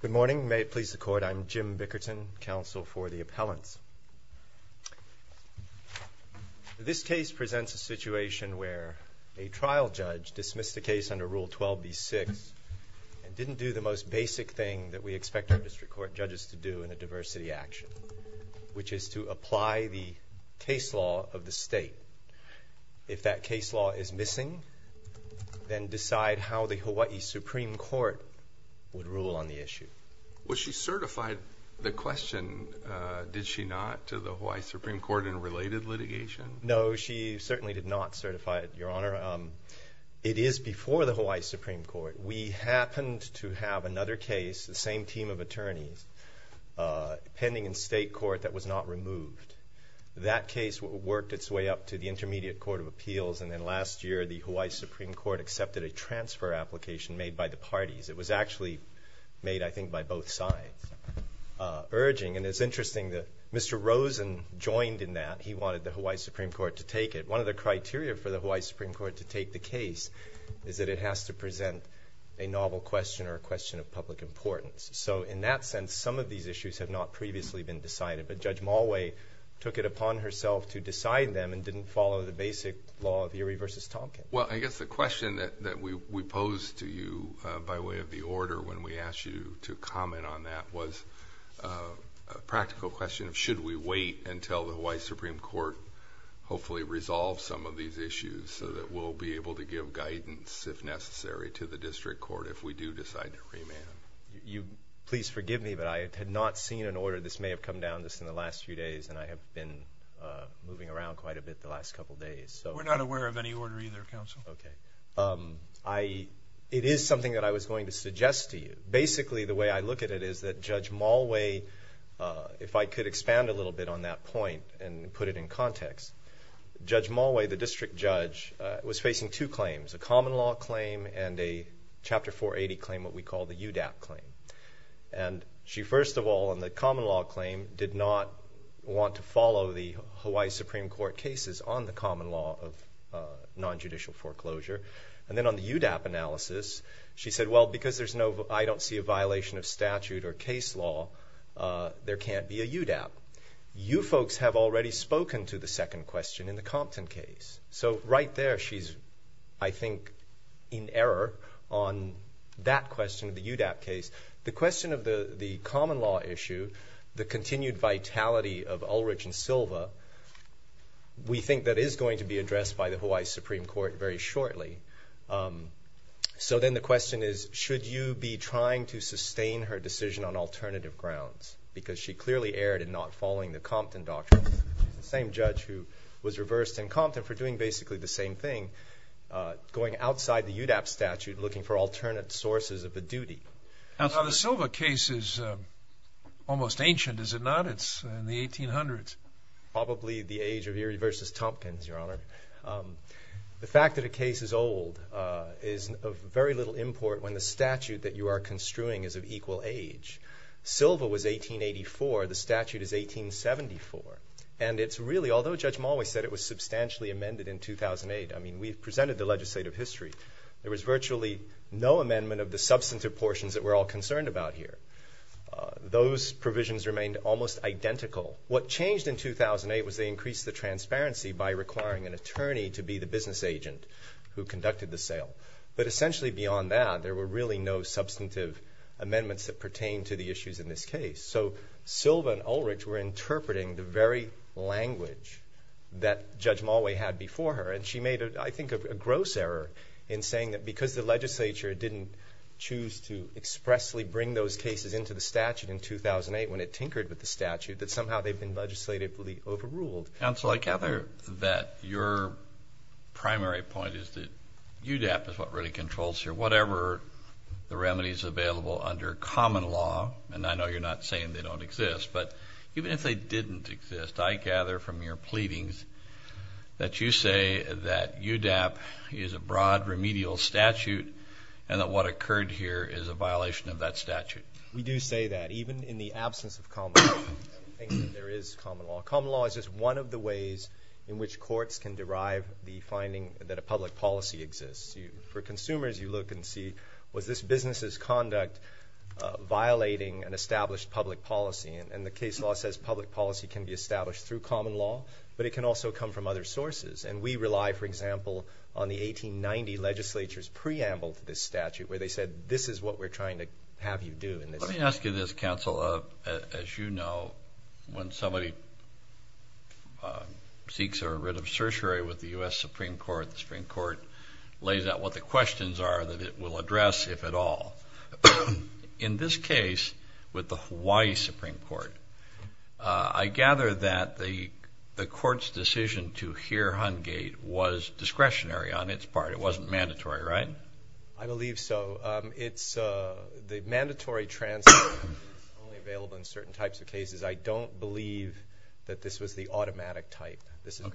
Good morning. May it please the court, I'm Jim Bickerton, counsel for the appellants. This case presents a situation where a trial judge dismissed a case under Rule 12b-6 and didn't do the most basic thing that we expect our district court judges to do in a diversity action, which is to apply the case law of the state. If that case law is missing, then decide how the Hawai'i Supreme Court would rule on the issue. Was she certified? The question, did she not, to the Hawai'i Supreme Court in related litigation? No, she certainly did not certify it, Your Honor. It is before the Hawai'i Supreme Court. We happened to have another case, the same team of attorneys, pending in state court that was not removed. That case worked its way up to the Intermediate Court of Appeals, and then last year the Hawai'i Supreme Court accepted a transfer application made by the parties. It was actually made, I think, by both sides, urging, and it's interesting that Mr. Rosen joined in that. He wanted the Hawai'i Supreme Court to take it. One of the criteria for the Hawai'i Supreme Court to take the case is that it has to present a novel question or a question of public importance. So in that sense, some of these issues have not previously been decided, but Judge Mulway took it upon herself to decide them and didn't follow the basic law of Erie v. Tompkins. Well, I guess the question that we posed to you by way of the order when we asked you to comment on that was a practical question of should we wait until the Hawai'i Supreme Court hopefully resolves some of these issues so that we'll be able to give guidance, if necessary, to the district court if we do decide to remand. Please forgive me, but I had not seen an order. This may have come down just in the last few days, and I have been moving around quite a bit the last couple days. We're not aware of any order either, Counsel. It is something that I was going to suggest to you. Basically, the way I look at it is that Judge Mulway, if I could expand a little bit on that point and put it in context, Judge Mulway, the district judge, was facing two claims, a common law claim and a Chapter 480 claim, what we call the UDAP claim. She, first of all, in the common law claim, did not want to follow the Hawai'i Supreme Court cases on the common law of nonjudicial foreclosure. Then on the UDAP analysis, she said, well, because I don't see a violation of statute or case law, there can't be a UDAP. You folks have already spoken to the second question in the Compton case. So right there, she's, I think, in error on that question of the UDAP case. The question of the common law issue, the continued vitality of Ulrich and Silva, we think that is going to be addressed by the Hawai'i Supreme Court very shortly. So then the question is, should you be trying to sustain her decision on alternative grounds? Because she clearly erred in not following the Compton doctrine. The same judge who was reversed in Compton for doing basically the same thing, going outside the UDAP statute looking for alternate sources of the duty. Now, the Silva case is almost ancient, is it not? It's in the 1800s. Probably the age of Erie versus Tompkins, Your Honor. The fact that a case is old is of very little import when the statute that you are construing is of equal age. Silva was 1884. The statute is 1874. And it's really, although Judge Mulway said it was substantially amended in 2008, I mean, we've presented the legislative history. There was virtually no amendment of the substantive portions that we're all concerned about here. Those provisions remained almost identical. What changed in 2008 was they increased the transparency by requiring an attorney to be the business agent who conducted the sale. But essentially beyond that, there were really no substantive amendments that pertain to the issues in this case. So Silva and Ulrich were interpreting the very language that Judge Mulway had before her. And she made, I think, a gross error in saying that because the legislature didn't choose to expressly bring those cases into the statute in 2008 when it tinkered with the statute, that somehow they've been legislatively overruled. Counsel, I gather that your primary point is that UDAP is what really controls here. Whatever the remedies available under common law, and I know you're not saying they don't exist, but even if they didn't exist, I gather from your pleadings that you say that UDAP is a broad remedial statute and that what occurred here is a violation of that statute. We do say that even in the absence of common law. I don't think that there is common law. Common law is just one of the ways in which courts can derive the finding that a public policy exists. For consumers, you look and see, was this business's conduct violating an established public policy? And the case law says public policy can be established through common law, but it can also come from other sources. And we rely, for example, on the 1890 legislature's preamble to this statute where they said this is what we're trying to have you do in this case. Let me ask you this, Counsel. As you know, when somebody seeks a writ of certiorari with the U.S. Supreme Court, the Supreme Court lays out what the questions are that it will address, if at all. In this case, with the Hawaii Supreme Court, I gather that the court's decision to hear Hungate was discretionary on its part. It wasn't mandatory, right? I believe so. The mandatory transfer is only available in certain types of cases. I don't believe that this was the automatic type. And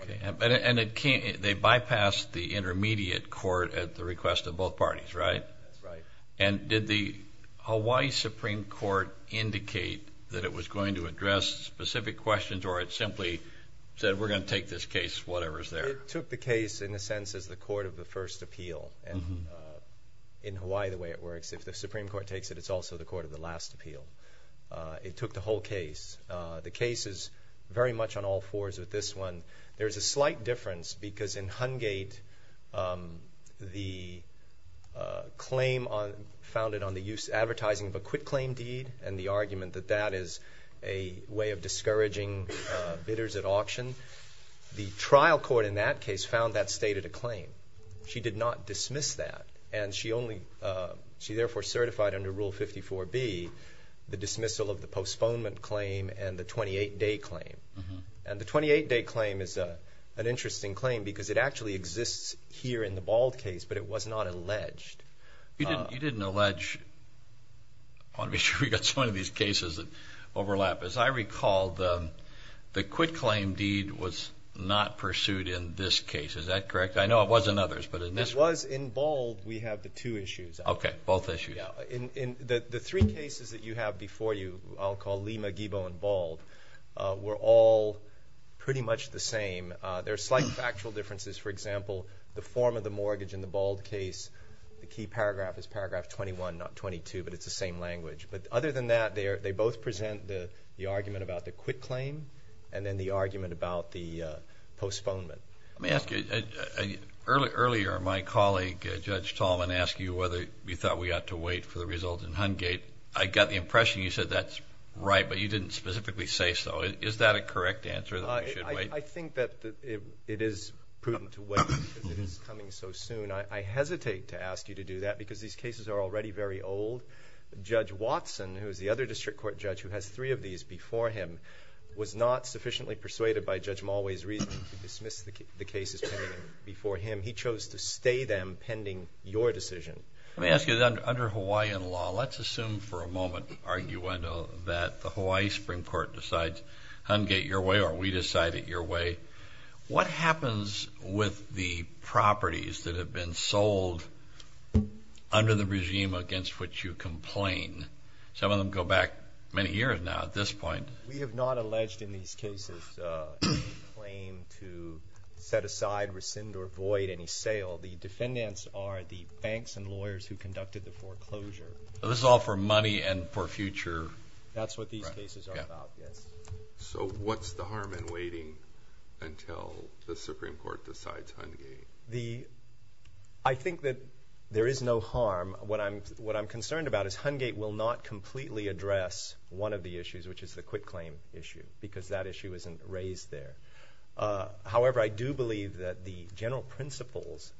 they bypassed the intermediate court at the request of both parties, right? That's right. And did the Hawaii Supreme Court indicate that it was going to address specific questions or it simply said we're going to take this case, whatever's there? It took the case, in a sense, as the court of the first appeal. And in Hawaii, the way it works, if the Supreme Court takes it, it's also the court of the last appeal. It took the whole case. The case is very much on all fours with this one. There is a slight difference because in Hungate, the claim founded on the use of advertising of a quitclaim deed and the argument that that is a way of discouraging bidders at auction, the trial court in that case found that stated a claim. She did not dismiss that. And she therefore certified under Rule 54B the dismissal of the postponement claim and the 28-day claim. And the 28-day claim is an interesting claim because it actually exists here in the Bald case, but it was not alleged. You didn't allege one of these cases that overlap. As I recall, the quitclaim deed was not pursued in this case. Is that correct? I know it was in others. It was in Bald. We have the two issues. Okay, both issues. The three cases that you have before you, I'll call Lima, Guibo, and Bald, were all pretty much the same. There are slight factual differences. For example, the form of the mortgage in the Bald case, the key paragraph is paragraph 21, not 22, but it's the same language. But other than that, they both present the argument about the quitclaim and then the argument about the postponement. Let me ask you, earlier my colleague, Judge Tallman, asked you whether you thought we got to wait for the results in Hungate. I got the impression you said that's right, but you didn't specifically say so. Is that a correct answer, that we should wait? I think that it is prudent to wait because it is coming so soon. I hesitate to ask you to do that because these cases are already very old. Judge Watson, who is the other district court judge who has three of these before him, was not sufficiently persuaded by Judge Mulway's reasoning to dismiss the cases pending before him. He chose to stay them pending your decision. Let me ask you, under Hawaiian law, let's assume for a moment, arguendo, that the Hawaii Supreme Court decides Hungate your way or we decide it your way. What happens with the properties that have been sold under the regime against which you complain? Some of them go back many years now at this point. We have not alleged in these cases a claim to set aside, rescind, or void any sale. The defendants are the banks and lawyers who conducted the foreclosure. This is all for money and for future? That's what these cases are about, yes. So what's the harm in waiting until the Supreme Court decides Hungate? I think that there is no harm. What I'm concerned about is Hungate will not completely address one of the issues, which is the quitclaim issue, because that issue isn't raised there. However, I do believe that the general principles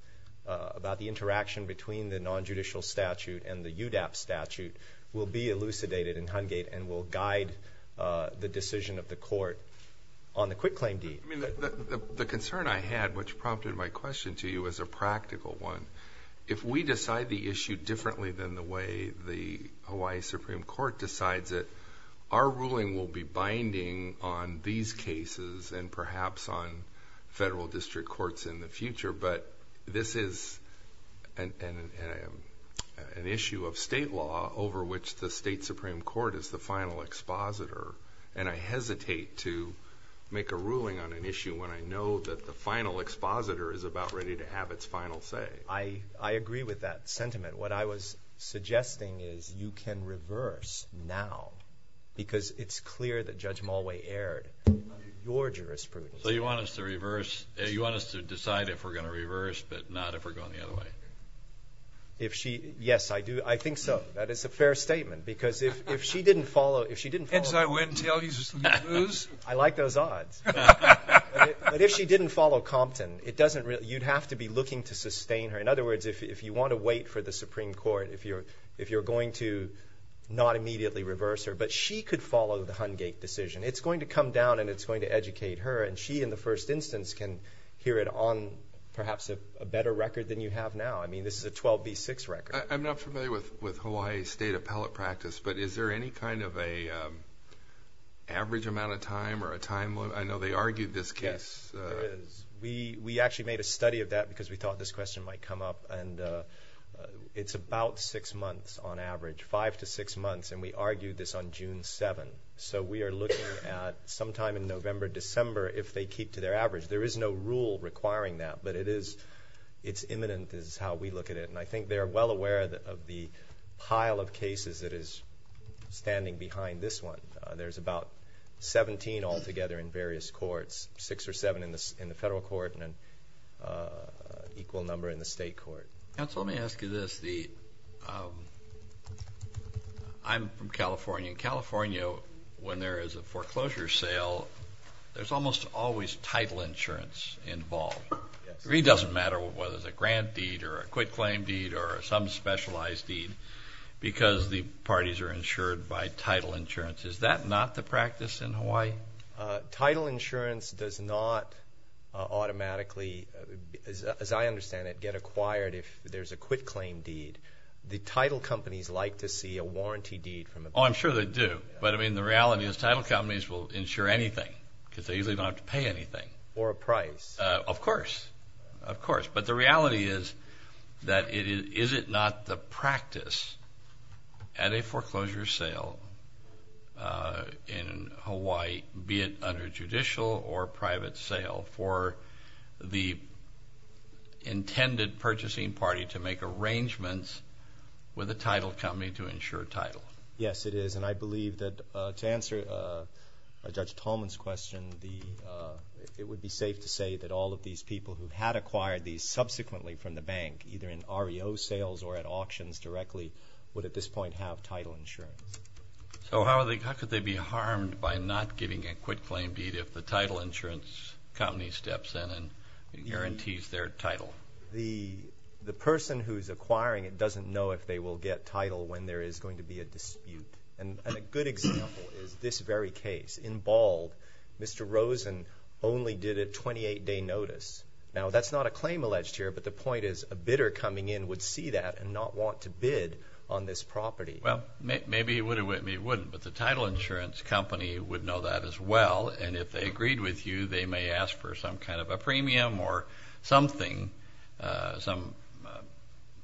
about the interaction between the nonjudicial statute and the UDAP statute will be elucidated in Hungate and will guide the decision of the court on the quitclaim deed. The concern I had, which prompted my question to you, is a practical one. If we decide the issue differently than the way the Hawaii Supreme Court decides it, our ruling will be binding on these cases and perhaps on federal district courts in the future, but this is an issue of state law over which the state Supreme Court is the final expositor. I hesitate to make a ruling on an issue when I know that the final expositor is about ready to have its final say. I agree with that sentiment. What I was suggesting is you can reverse now because it's clear that Judge Mulway aired your jurisprudence. So you want us to reverse? You want us to decide if we're going to reverse but not if we're going the other way? Yes, I do. I think so. That is a fair statement because if she didn't follow— Heads, I win. Tails, you lose. I like those odds. But if she didn't follow Compton, you'd have to be looking to sustain her. In other words, if you want to wait for the Supreme Court, if you're going to not immediately reverse her, but she could follow the Hungate decision. It's going to come down and it's going to educate her, and she in the first instance can hear it on perhaps a better record than you have now. I mean, this is a 12B6 record. I'm not familiar with Hawaii state appellate practice, but is there any kind of an average amount of time or a time limit? I know they argued this case. Yes, there is. We actually made a study of that because we thought this question might come up, and it's about six months on average, five to six months, and we argued this on June 7th. So we are looking at sometime in November, December if they keep to their average. There is no rule requiring that, but it's imminent is how we look at it, and I think they're well aware of the pile of cases that is standing behind this one. There's about 17 altogether in various courts, six or seven in the federal court and an equal number in the state court. Counsel, let me ask you this. I'm from California. In California, when there is a foreclosure sale, there's almost always title insurance involved. It really doesn't matter whether it's a grant deed or a quit claim deed or some specialized deed because the parties are insured by title insurance. Is that not the practice in Hawaii? Title insurance does not automatically, as I understand it, get acquired if there's a quit claim deed. The title companies like to see a warranty deed. Oh, I'm sure they do. But, I mean, the reality is title companies will insure anything because they usually don't have to pay anything. Or a price. Of course, of course. But the reality is that is it not the practice at a foreclosure sale in Hawaii, be it under judicial or private sale, for the intended purchasing party to make arrangements with the title company to insure title? Yes, it is. And I believe that to answer Judge Tolman's question, it would be safe to say that all of these people who had acquired these subsequently from the bank, either in REO sales or at auctions directly, would at this point have title insurance. So how could they be harmed by not giving a quit claim deed if the title insurance company steps in and guarantees their title? The person who's acquiring it doesn't know if they will get title when there is going to be a dispute. And a good example is this very case. In Bald, Mr. Rosen only did a 28-day notice. Now, that's not a claim alleged here, but the point is a bidder coming in would see that and not want to bid on this property. Well, maybe he wouldn't, but the title insurance company would know that as well. And if they agreed with you, they may ask for some kind of a premium or something, some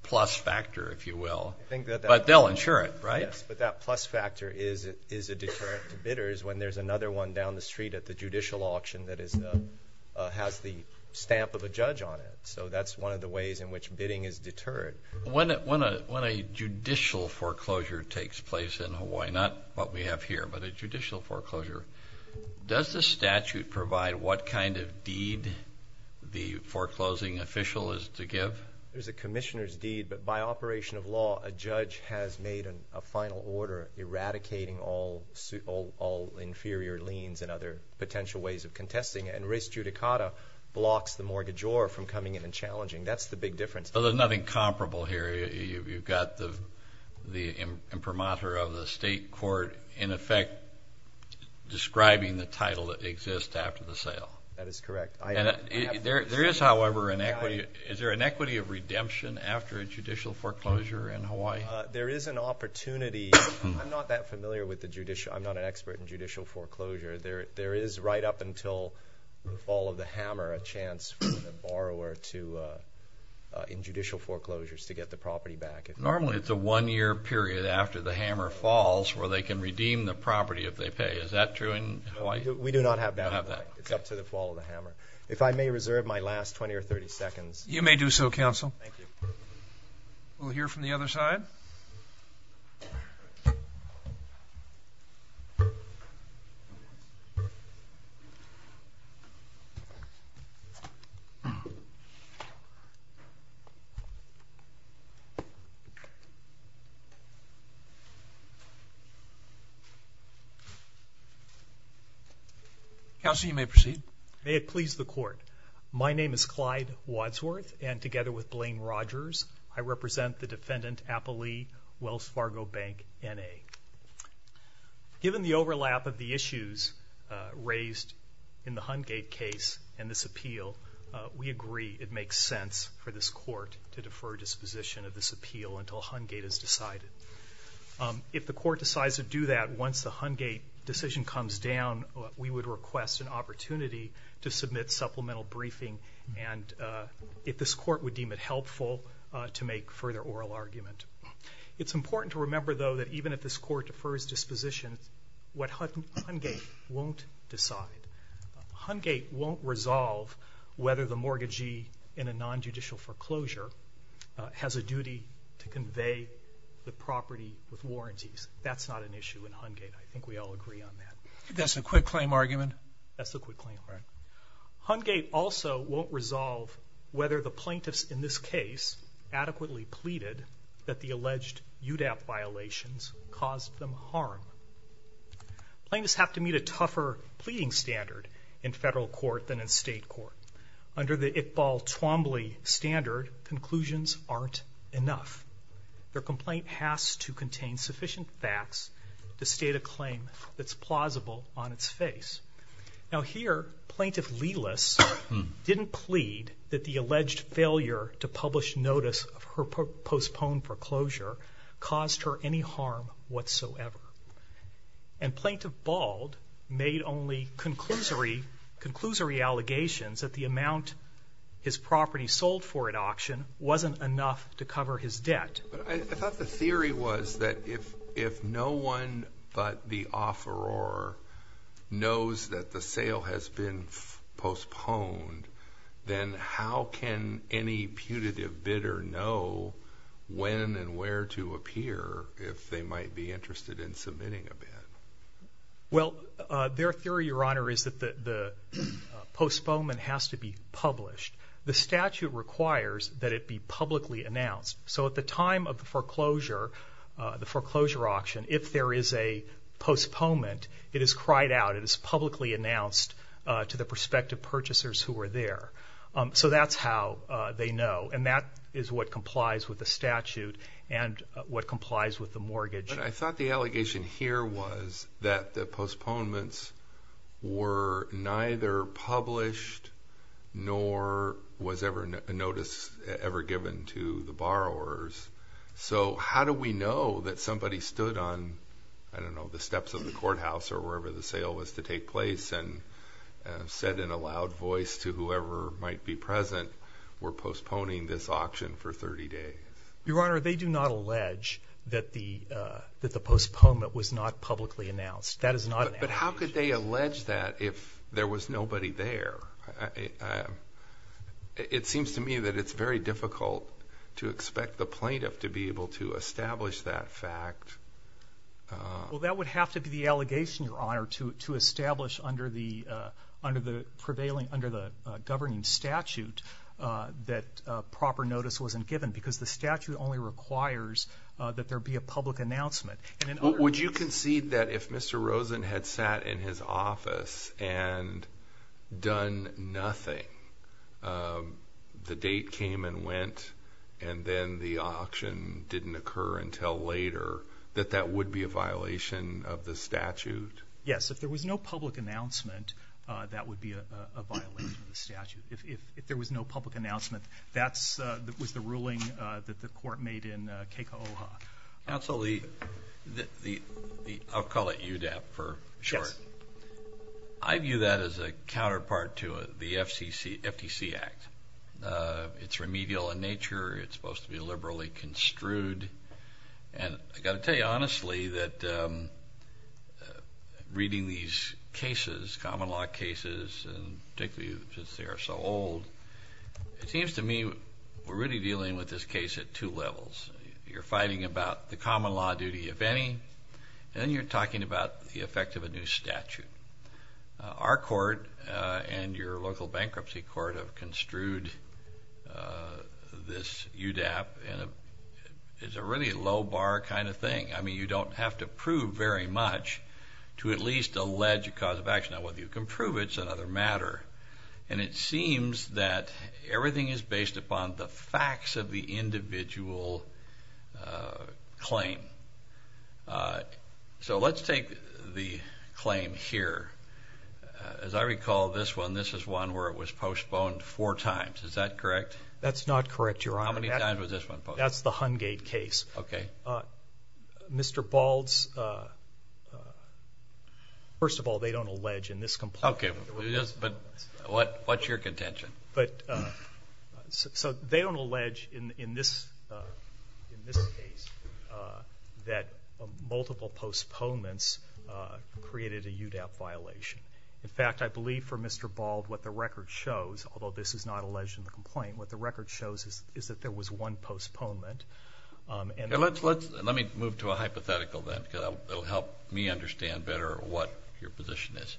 plus factor, if you will. But they'll insure it, right? Yes, but that plus factor is a deterrent to bidders when there's another one down the street at the judicial auction that has the stamp of a judge on it. So that's one of the ways in which bidding is deterred. When a judicial foreclosure takes place in Hawaii, not what we have here, but a judicial foreclosure, does the statute provide what kind of deed the foreclosing official is to give? There's a commissioner's deed, but by operation of law, a judge has made a final order eradicating all inferior liens and other potential ways of contesting it. And res judicata blocks the mortgagor from coming in and challenging. That's the big difference. So there's nothing comparable here. You've got the imprimatur of the state court, in effect, describing the title that exists after the sale. That is correct. There is, however, an equity. Is there an equity of redemption after a judicial foreclosure in Hawaii? There is an opportunity. I'm not that familiar with the judicial. I'm not an expert in judicial foreclosure. There is, right up until the fall of the hammer, a chance for the borrower to, in judicial foreclosures, to get the property back. Normally, it's a one-year period after the hammer falls where they can redeem the property if they pay. Is that true in Hawaii? We do not have that in Hawaii. It's up to the fall of the hammer. If I may reserve my last 20 or 30 seconds. You may do so, counsel. Thank you. We'll hear from the other side. Thank you. Counsel, you may proceed. May it please the court. My name is Clyde Wadsworth, and together with Blaine Rogers, I represent the defendant, Appalee Wells Fargo Bank, N.A. Given the overlap of the issues raised in the Hungate case and this appeal, we agree it makes sense for this court to defer disposition of this appeal until Hungate is decided. If the court decides to do that once the Hungate decision comes down, we would request an opportunity to submit supplemental briefing. And if this court would deem it helpful to make further oral argument. It's important to remember, though, that even if this court defers disposition, what Hungate won't decide. Hungate won't resolve whether the mortgagee in a non-judicial foreclosure has a duty to convey the property with warranties. That's not an issue in Hungate. I think we all agree on that. That's a quick claim argument? That's a quick claim argument. Hungate also won't resolve whether the plaintiffs in this case adequately pleaded that the alleged UDAP violations caused them harm. Plaintiffs have to meet a tougher pleading standard in federal court than in state court. Under the Iqbal Twombly standard, conclusions aren't enough. Their complaint has to contain sufficient facts to state a claim that's plausible on its face. Now here, Plaintiff Lelis didn't plead that the alleged failure to publish notice of her postponed foreclosure caused her any harm whatsoever. And Plaintiff Bald made only conclusory allegations that the amount his property sold for at auction wasn't enough to cover his debt. I thought the theory was that if no one but the offeror knows that the sale has been postponed, then how can any putative bidder know when and where to appear if they might be interested in submitting a bid? Well, their theory, Your Honor, is that the postponement has to be published. The statute requires that it be publicly announced. So at the time of the foreclosure, the foreclosure auction, if there is a postponement, it is cried out. It is publicly announced to the prospective purchasers who are there. So that's how they know, and that is what complies with the statute and what complies with the mortgage. But I thought the allegation here was that the postponements were neither published nor was ever a notice ever given to the borrowers. So how do we know that somebody stood on, I don't know, the steps of the courthouse or wherever the sale was to take place and said in a loud voice to whoever might be present, we're postponing this auction for 30 days? Your Honor, they do not allege that the postponement was not publicly announced. That is not an allegation. But how could they allege that if there was nobody there? It seems to me that it's very difficult to expect the plaintiff to be able to establish that fact. Well, that would have to be the allegation, Your Honor, to establish under the governing statute that proper notice wasn't given because the statute only requires that there be a public announcement. Would you concede that if Mr. Rosen had sat in his office and done nothing, the date came and went and then the auction didn't occur until later, that that would be a violation of the statute? Yes. If there was no public announcement, that would be a violation of the statute. If there was no public announcement, that was the ruling that the court made in Keiko'oha. Counsel, I'll call it UDAP for short. Yes. I view that as a counterpart to the FTC Act. It's remedial in nature. It's supposed to be liberally construed. And I've got to tell you honestly that reading these cases, common law cases, and particularly since they are so old, it seems to me we're really dealing with this case at two levels. You're fighting about the common law duty, if any, and then you're talking about the effect of a new statute. Our court and your local bankruptcy court have construed this UDAP and it's a really low bar kind of thing. I mean, you don't have to prove very much to at least allege a cause of action. Now, whether you can prove it is another matter. And it seems that everything is based upon the facts of the individual claim. So let's take the claim here. As I recall this one, this is one where it was postponed four times. Is that correct? That's not correct, Your Honor. How many times was this one postponed? That's the Hungate case. Okay. Mr. Bald's, first of all, they don't allege in this complaint. Okay. But what's your contention? So they don't allege in this case that multiple postponements created a UDAP violation. In fact, I believe for Mr. Bald what the record shows, although this is not alleged in the complaint, what the record shows is that there was one postponement. Let me move to a hypothetical then because it will help me understand better what your position is.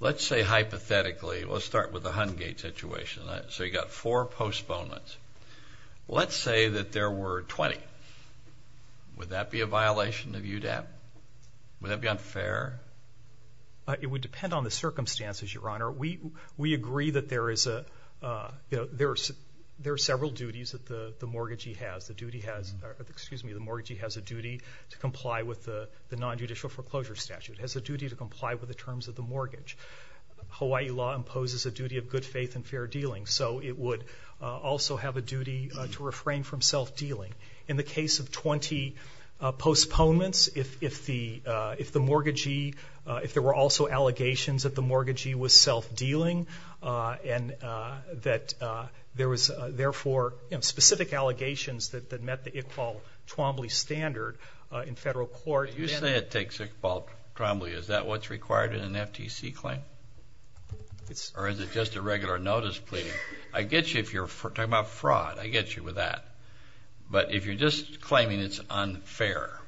Let's say hypothetically, let's start with the Hungate situation. So you've got four postponements. Let's say that there were 20. Would that be a violation of UDAP? Would that be unfair? It would depend on the circumstances, Your Honor. We agree that there are several duties that the mortgagee has. The mortgagee has a duty to comply with the nonjudicial foreclosure statute, has a duty to comply with the terms of the mortgage. Hawaii law imposes a duty of good faith and fair dealing, so it would also have a duty to refrain from self-dealing. In the case of 20 postponements, if there were also allegations that the mortgagee was self-dealing and that there was, therefore, specific allegations that met the Iqbal Twombly standard in federal court. You say it takes Iqbal Twombly. Is that what's required in an FTC claim? Or is it just a regular notice pleading? I get you if you're talking about fraud. I get you with that. But if you're just claiming it's unfair,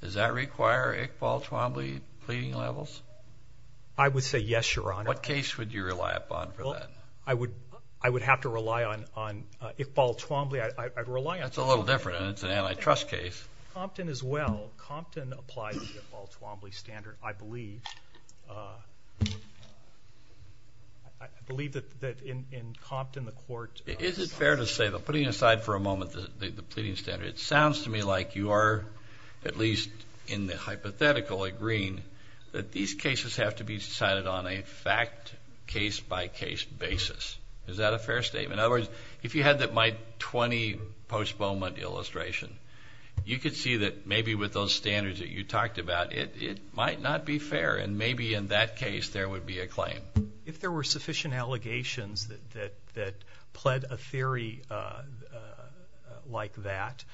does that require Iqbal Twombly pleading levels? I would say yes, Your Honor. What case would you rely upon for that? I would have to rely on Iqbal Twombly. I'd rely on Twombly. That's a little different. It's an antitrust case. Compton as well. Compton applies the Iqbal Twombly standard, I believe. I believe that in Compton the court. Is it fair to say, putting aside for a moment the pleading standard, it sounds to me like you are at least in the hypothetical agreeing that these cases have to be decided on a fact, case-by-case basis. Is that a fair statement? In other words, if you had my 20 postponement illustration, you could see that maybe with those standards that you talked about, it might not be fair, and maybe in that case there would be a claim. If there were sufficient allegations that pled a theory like that,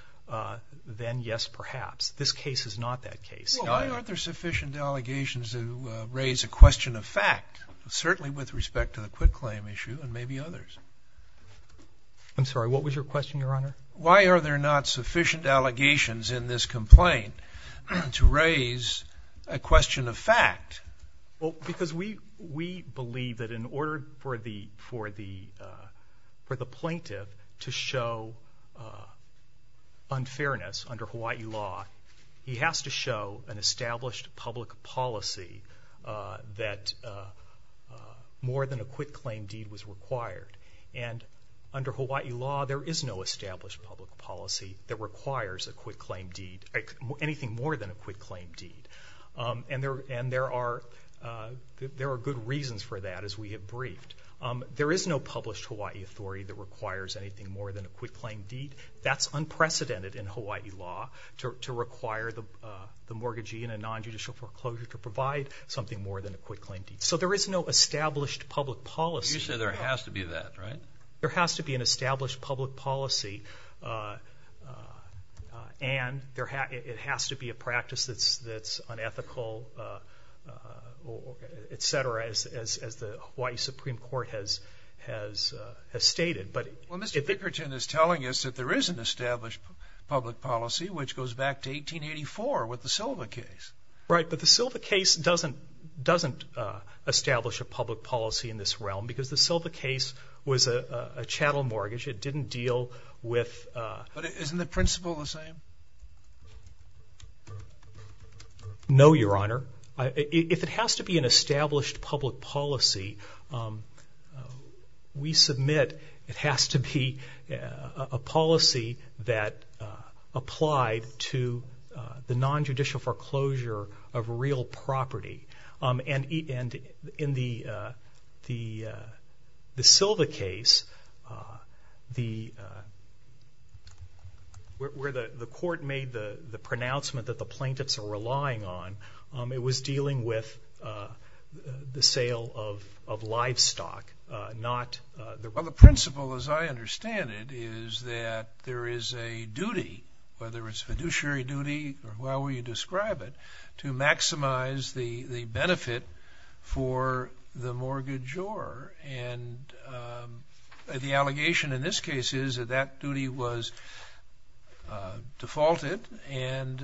then yes, perhaps. This case is not that case. Why aren't there sufficient allegations to raise a question of fact, certainly with respect to the quit claim issue and maybe others? I'm sorry, what was your question, Your Honor? Why are there not sufficient allegations in this complaint to raise a question of fact? Because we believe that in order for the plaintiff to show unfairness under Hawaii law, he has to show an established public policy that more than a quit claim deed was required. And under Hawaii law, there is no established public policy that requires a quit claim deed, anything more than a quit claim deed. And there are good reasons for that, as we have briefed. There is no published Hawaii authority that requires anything more than a quit claim deed. That's unprecedented in Hawaii law to require the mortgagee in a nonjudicial foreclosure to provide something more than a quit claim deed. So there is no established public policy. You said there has to be that, right? There has to be an established public policy, and it has to be a practice that's unethical, et cetera, as the Hawaii Supreme Court has stated. Well, Mr. Dickerton is telling us that there is an established public policy, which goes back to 1884 with the Silva case. Right, but the Silva case doesn't establish a public policy in this realm because the Silva case was a chattel mortgage. It didn't deal with – But isn't the principle the same? No, Your Honor. If it has to be an established public policy, we submit it has to be a policy that applied to the nonjudicial foreclosure of real property. And in the Silva case, where the court made the pronouncement that the plaintiffs are relying on, it was dealing with the sale of livestock, not the – Well, the principle, as I understand it, is that there is a duty, whether it's a fiduciary duty or however you describe it, to maximize the benefit for the mortgagor. And the allegation in this case is that that duty was defaulted, and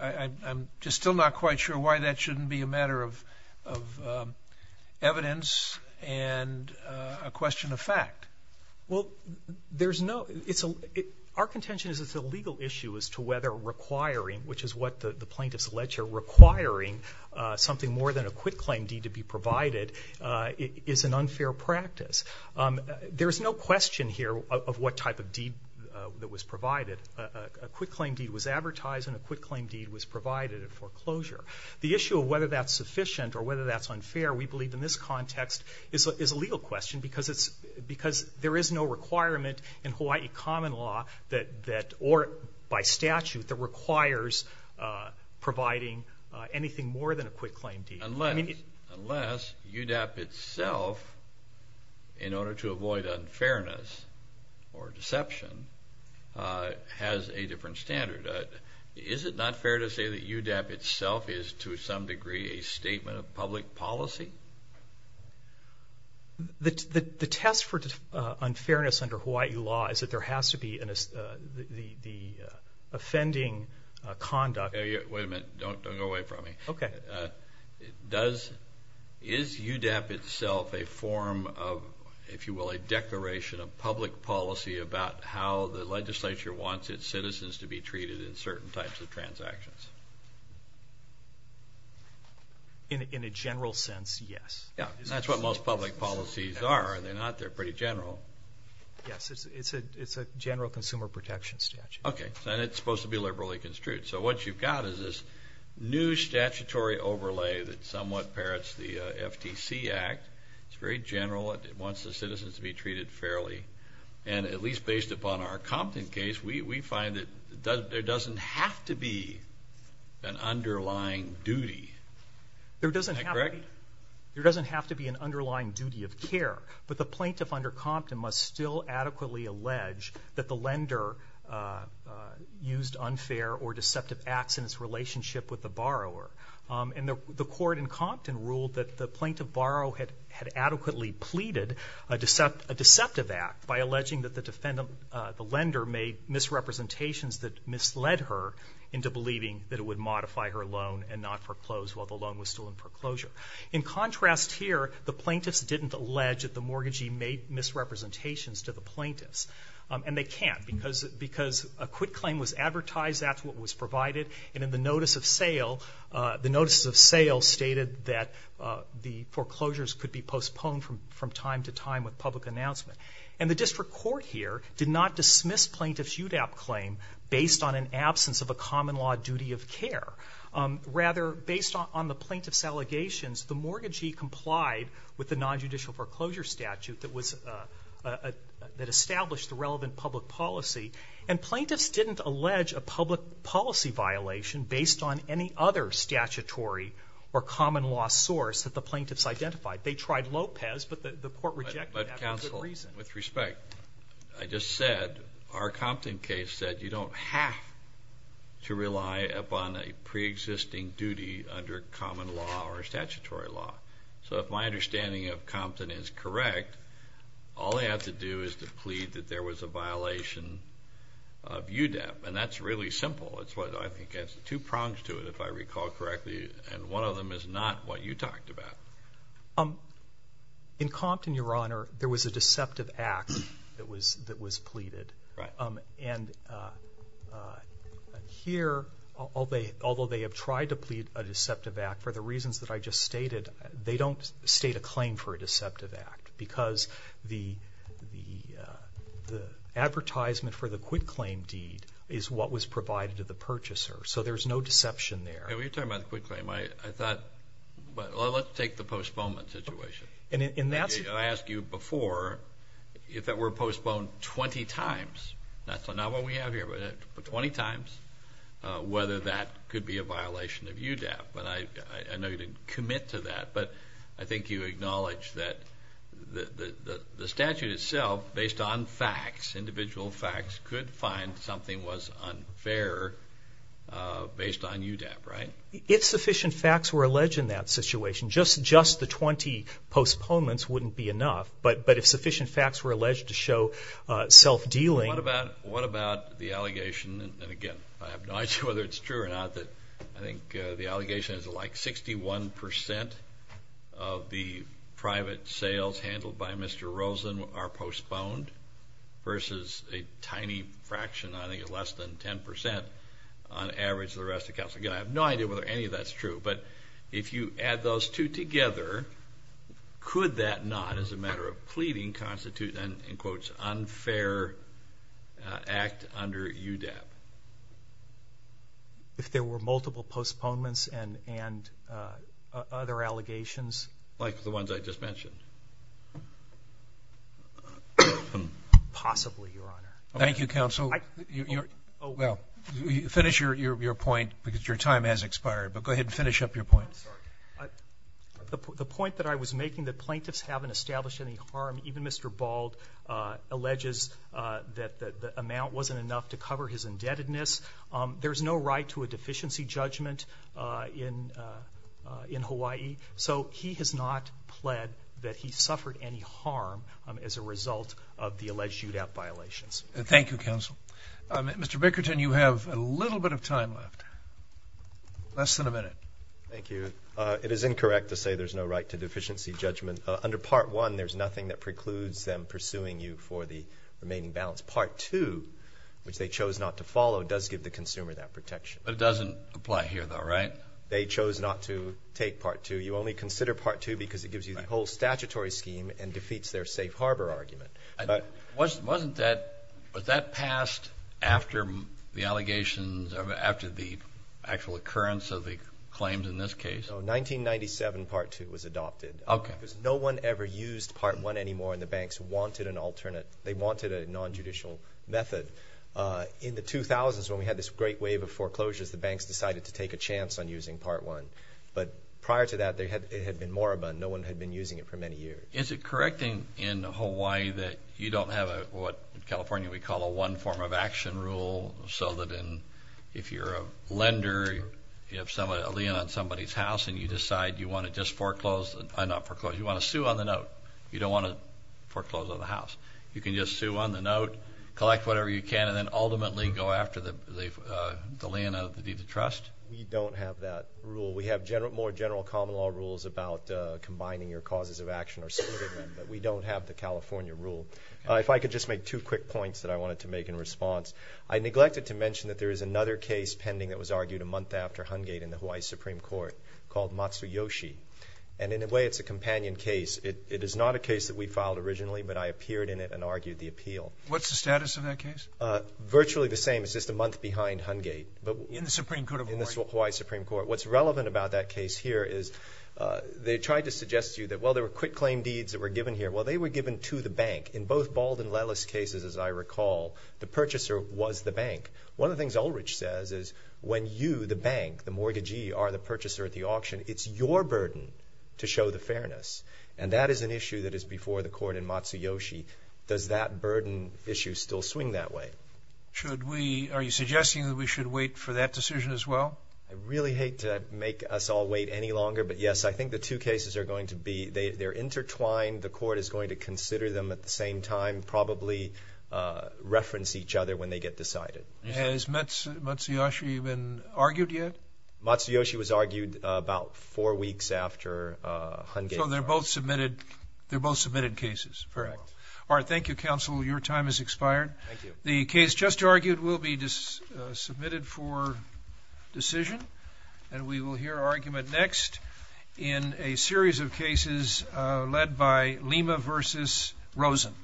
I'm just still not quite sure why that shouldn't be a matter of evidence and a question of fact. Well, there's no – Our contention is it's a legal issue as to whether requiring, which is what the plaintiffs alleged here, requiring something more than a quitclaim deed to be provided is an unfair practice. There is no question here of what type of deed that was provided. A quitclaim deed was advertised and a quitclaim deed was provided at foreclosure. The issue of whether that's sufficient or whether that's unfair, we believe, in this context, is a legal question because there is no requirement in Hawaii common law that – providing anything more than a quitclaim deed. Unless UDAP itself, in order to avoid unfairness or deception, has a different standard. Is it not fair to say that UDAP itself is to some degree a statement of public policy? The test for unfairness under Hawaii law is that there has to be the offending conduct. Wait a minute. Don't go away from me. Okay. Does – is UDAP itself a form of, if you will, a declaration of public policy about how the legislature wants its citizens to be treated in certain types of transactions? In a general sense, yes. Yeah. And that's what most public policies are. Are they not? They're pretty general. Yes. It's a general consumer protection statute. Okay. And it's supposed to be liberally construed. So what you've got is this new statutory overlay that somewhat parrots the FTC Act. It's very general. It wants the citizens to be treated fairly. And at least based upon our Compton case, we find that there doesn't have to be an underlying duty. Is that correct? There doesn't have to be an underlying duty of care. But the plaintiff under Compton must still adequately allege that the lender used unfair or deceptive acts in its relationship with the borrower. And the court in Compton ruled that the plaintiff borrower had adequately pleaded a deceptive act by alleging that the lender made misrepresentations that misled her into believing that it would modify her loan and not foreclose while the loan was still in foreclosure. In contrast here, the plaintiffs didn't allege that the mortgagee made misrepresentations to the plaintiffs. And they can't because a quit claim was advertised. That's what was provided. And in the notice of sale, the notice of sale stated that the foreclosures could be postponed from time to time with public announcement. And the district court here did not dismiss plaintiff's UDAP claim based on an absence of a common law duty of care. Rather, based on the plaintiff's allegations, the mortgagee complied with the nonjudicial foreclosure statute that established the relevant public policy. And plaintiffs didn't allege a public policy violation based on any other statutory or common law source that the plaintiffs identified. They tried Lopez, but the court rejected that for good reason. But counsel, with respect, I just said our Compton case said you don't have to rely upon a preexisting duty under common law or statutory law. So if my understanding of Compton is correct, all they have to do is to plead that there was a violation of UDAP. And that's really simple. I think it has two prongs to it, if I recall correctly. And one of them is not what you talked about. In Compton, Your Honor, there was a deceptive act that was pleaded. And here, although they have tried to plead a deceptive act, for the reasons that I just stated, they don't state a claim for a deceptive act because the advertisement for the quitclaim deed is what was provided to the purchaser. So there's no deception there. When you're talking about the quitclaim, I thought let's take the postponement situation. I asked you before if that were postponed 20 times, not what we have here, but 20 times, whether that could be a violation of UDAP. But I know you didn't commit to that. But I think you acknowledge that the statute itself, based on facts, individual facts, could find something was unfair based on UDAP, right? If sufficient facts were alleged in that situation, just the 20 postponements wouldn't be enough. But if sufficient facts were alleged to show self-dealing. What about the allegation, and again, I have no idea whether it's true or not, that I think the allegation is like 61% of the private sales handled by Mr. Rosen are postponed versus a tiny fraction, I think less than 10%, on average of the rest of Cal State. Again, I have no idea whether any of that's true. But if you add those two together, could that not, as a matter of pleading, constitute an, in quotes, unfair act under UDAP? If there were multiple postponements and other allegations? Like the ones I just mentioned? Possibly, Your Honor. Thank you, Counsel. Well, finish your point, because your time has expired. But go ahead and finish up your point. The point that I was making, that plaintiffs haven't established any harm, even Mr. Bald alleges that the amount wasn't enough to cover his indebtedness. There's no right to a deficiency judgment in Hawaii. So he has not pled that he suffered any harm as a result of the alleged UDAP violations. Thank you, Counsel. Mr. Bickerton, you have a little bit of time left, less than a minute. Thank you. It is incorrect to say there's no right to deficiency judgment. Under Part 1, there's nothing that precludes them pursuing you for the remaining balance. Part 2, which they chose not to follow, does give the consumer that protection. But it doesn't apply here, though, right? They chose not to take Part 2. You only consider Part 2 because it gives you the whole statutory scheme and defeats their safe harbor argument. But wasn't that, was that passed after the allegations, after the actual occurrence of the claims in this case? No, 1997 Part 2 was adopted. Okay. Because no one ever used Part 1 anymore, and the banks wanted an alternate. They wanted a nonjudicial method. In the 2000s, when we had this great wave of foreclosures, the banks decided to take a chance on using Part 1. But prior to that, it had been moribund. No one had been using it for many years. Is it correct in Hawaii that you don't have what in California we call a one-form-of-action rule so that if you're a lender, you have a lien on somebody's house, and you decide you want to just foreclose, not foreclose, you want to sue on the note? You don't want to foreclose on the house. You can just sue on the note, collect whatever you can, and then ultimately go after the lien out of the deed of trust? We don't have that rule. We have more general common law rules about combining your causes of action or something, but we don't have the California rule. If I could just make two quick points that I wanted to make in response. I neglected to mention that there is another case pending that was argued a month after Hungate in the Hawaii Supreme Court called Matsuyoshi, and in a way it's a companion case. It is not a case that we filed originally, but I appeared in it and argued the appeal. What's the status of that case? Virtually the same. It's just a month behind Hungate. In the Supreme Court of Hawaii? In the Hawaii Supreme Court. What's relevant about that case here is they tried to suggest to you that, well, there were quitclaim deeds that were given here. Well, they were given to the bank. In both Bald and Lellis cases, as I recall, the purchaser was the bank. One of the things Ulrich says is when you, the bank, the mortgagee, are the purchaser at the auction, it's your burden to show the fairness, and that is an issue that is before the court in Matsuyoshi. Does that burden issue still swing that way? Are you suggesting that we should wait for that decision as well? I really hate to make us all wait any longer, but, yes, I think the two cases are going to be intertwined. The court is going to consider them at the same time, probably reference each other when they get decided. Has Matsuyoshi been argued yet? Matsuyoshi was argued about four weeks after Hungate. So they're both submitted cases. Correct. All right, thank you, counsel. Your time has expired. Thank you. The case just argued will be submitted for decision, and we will hear argument next in a series of cases led by Lima v. Rosen.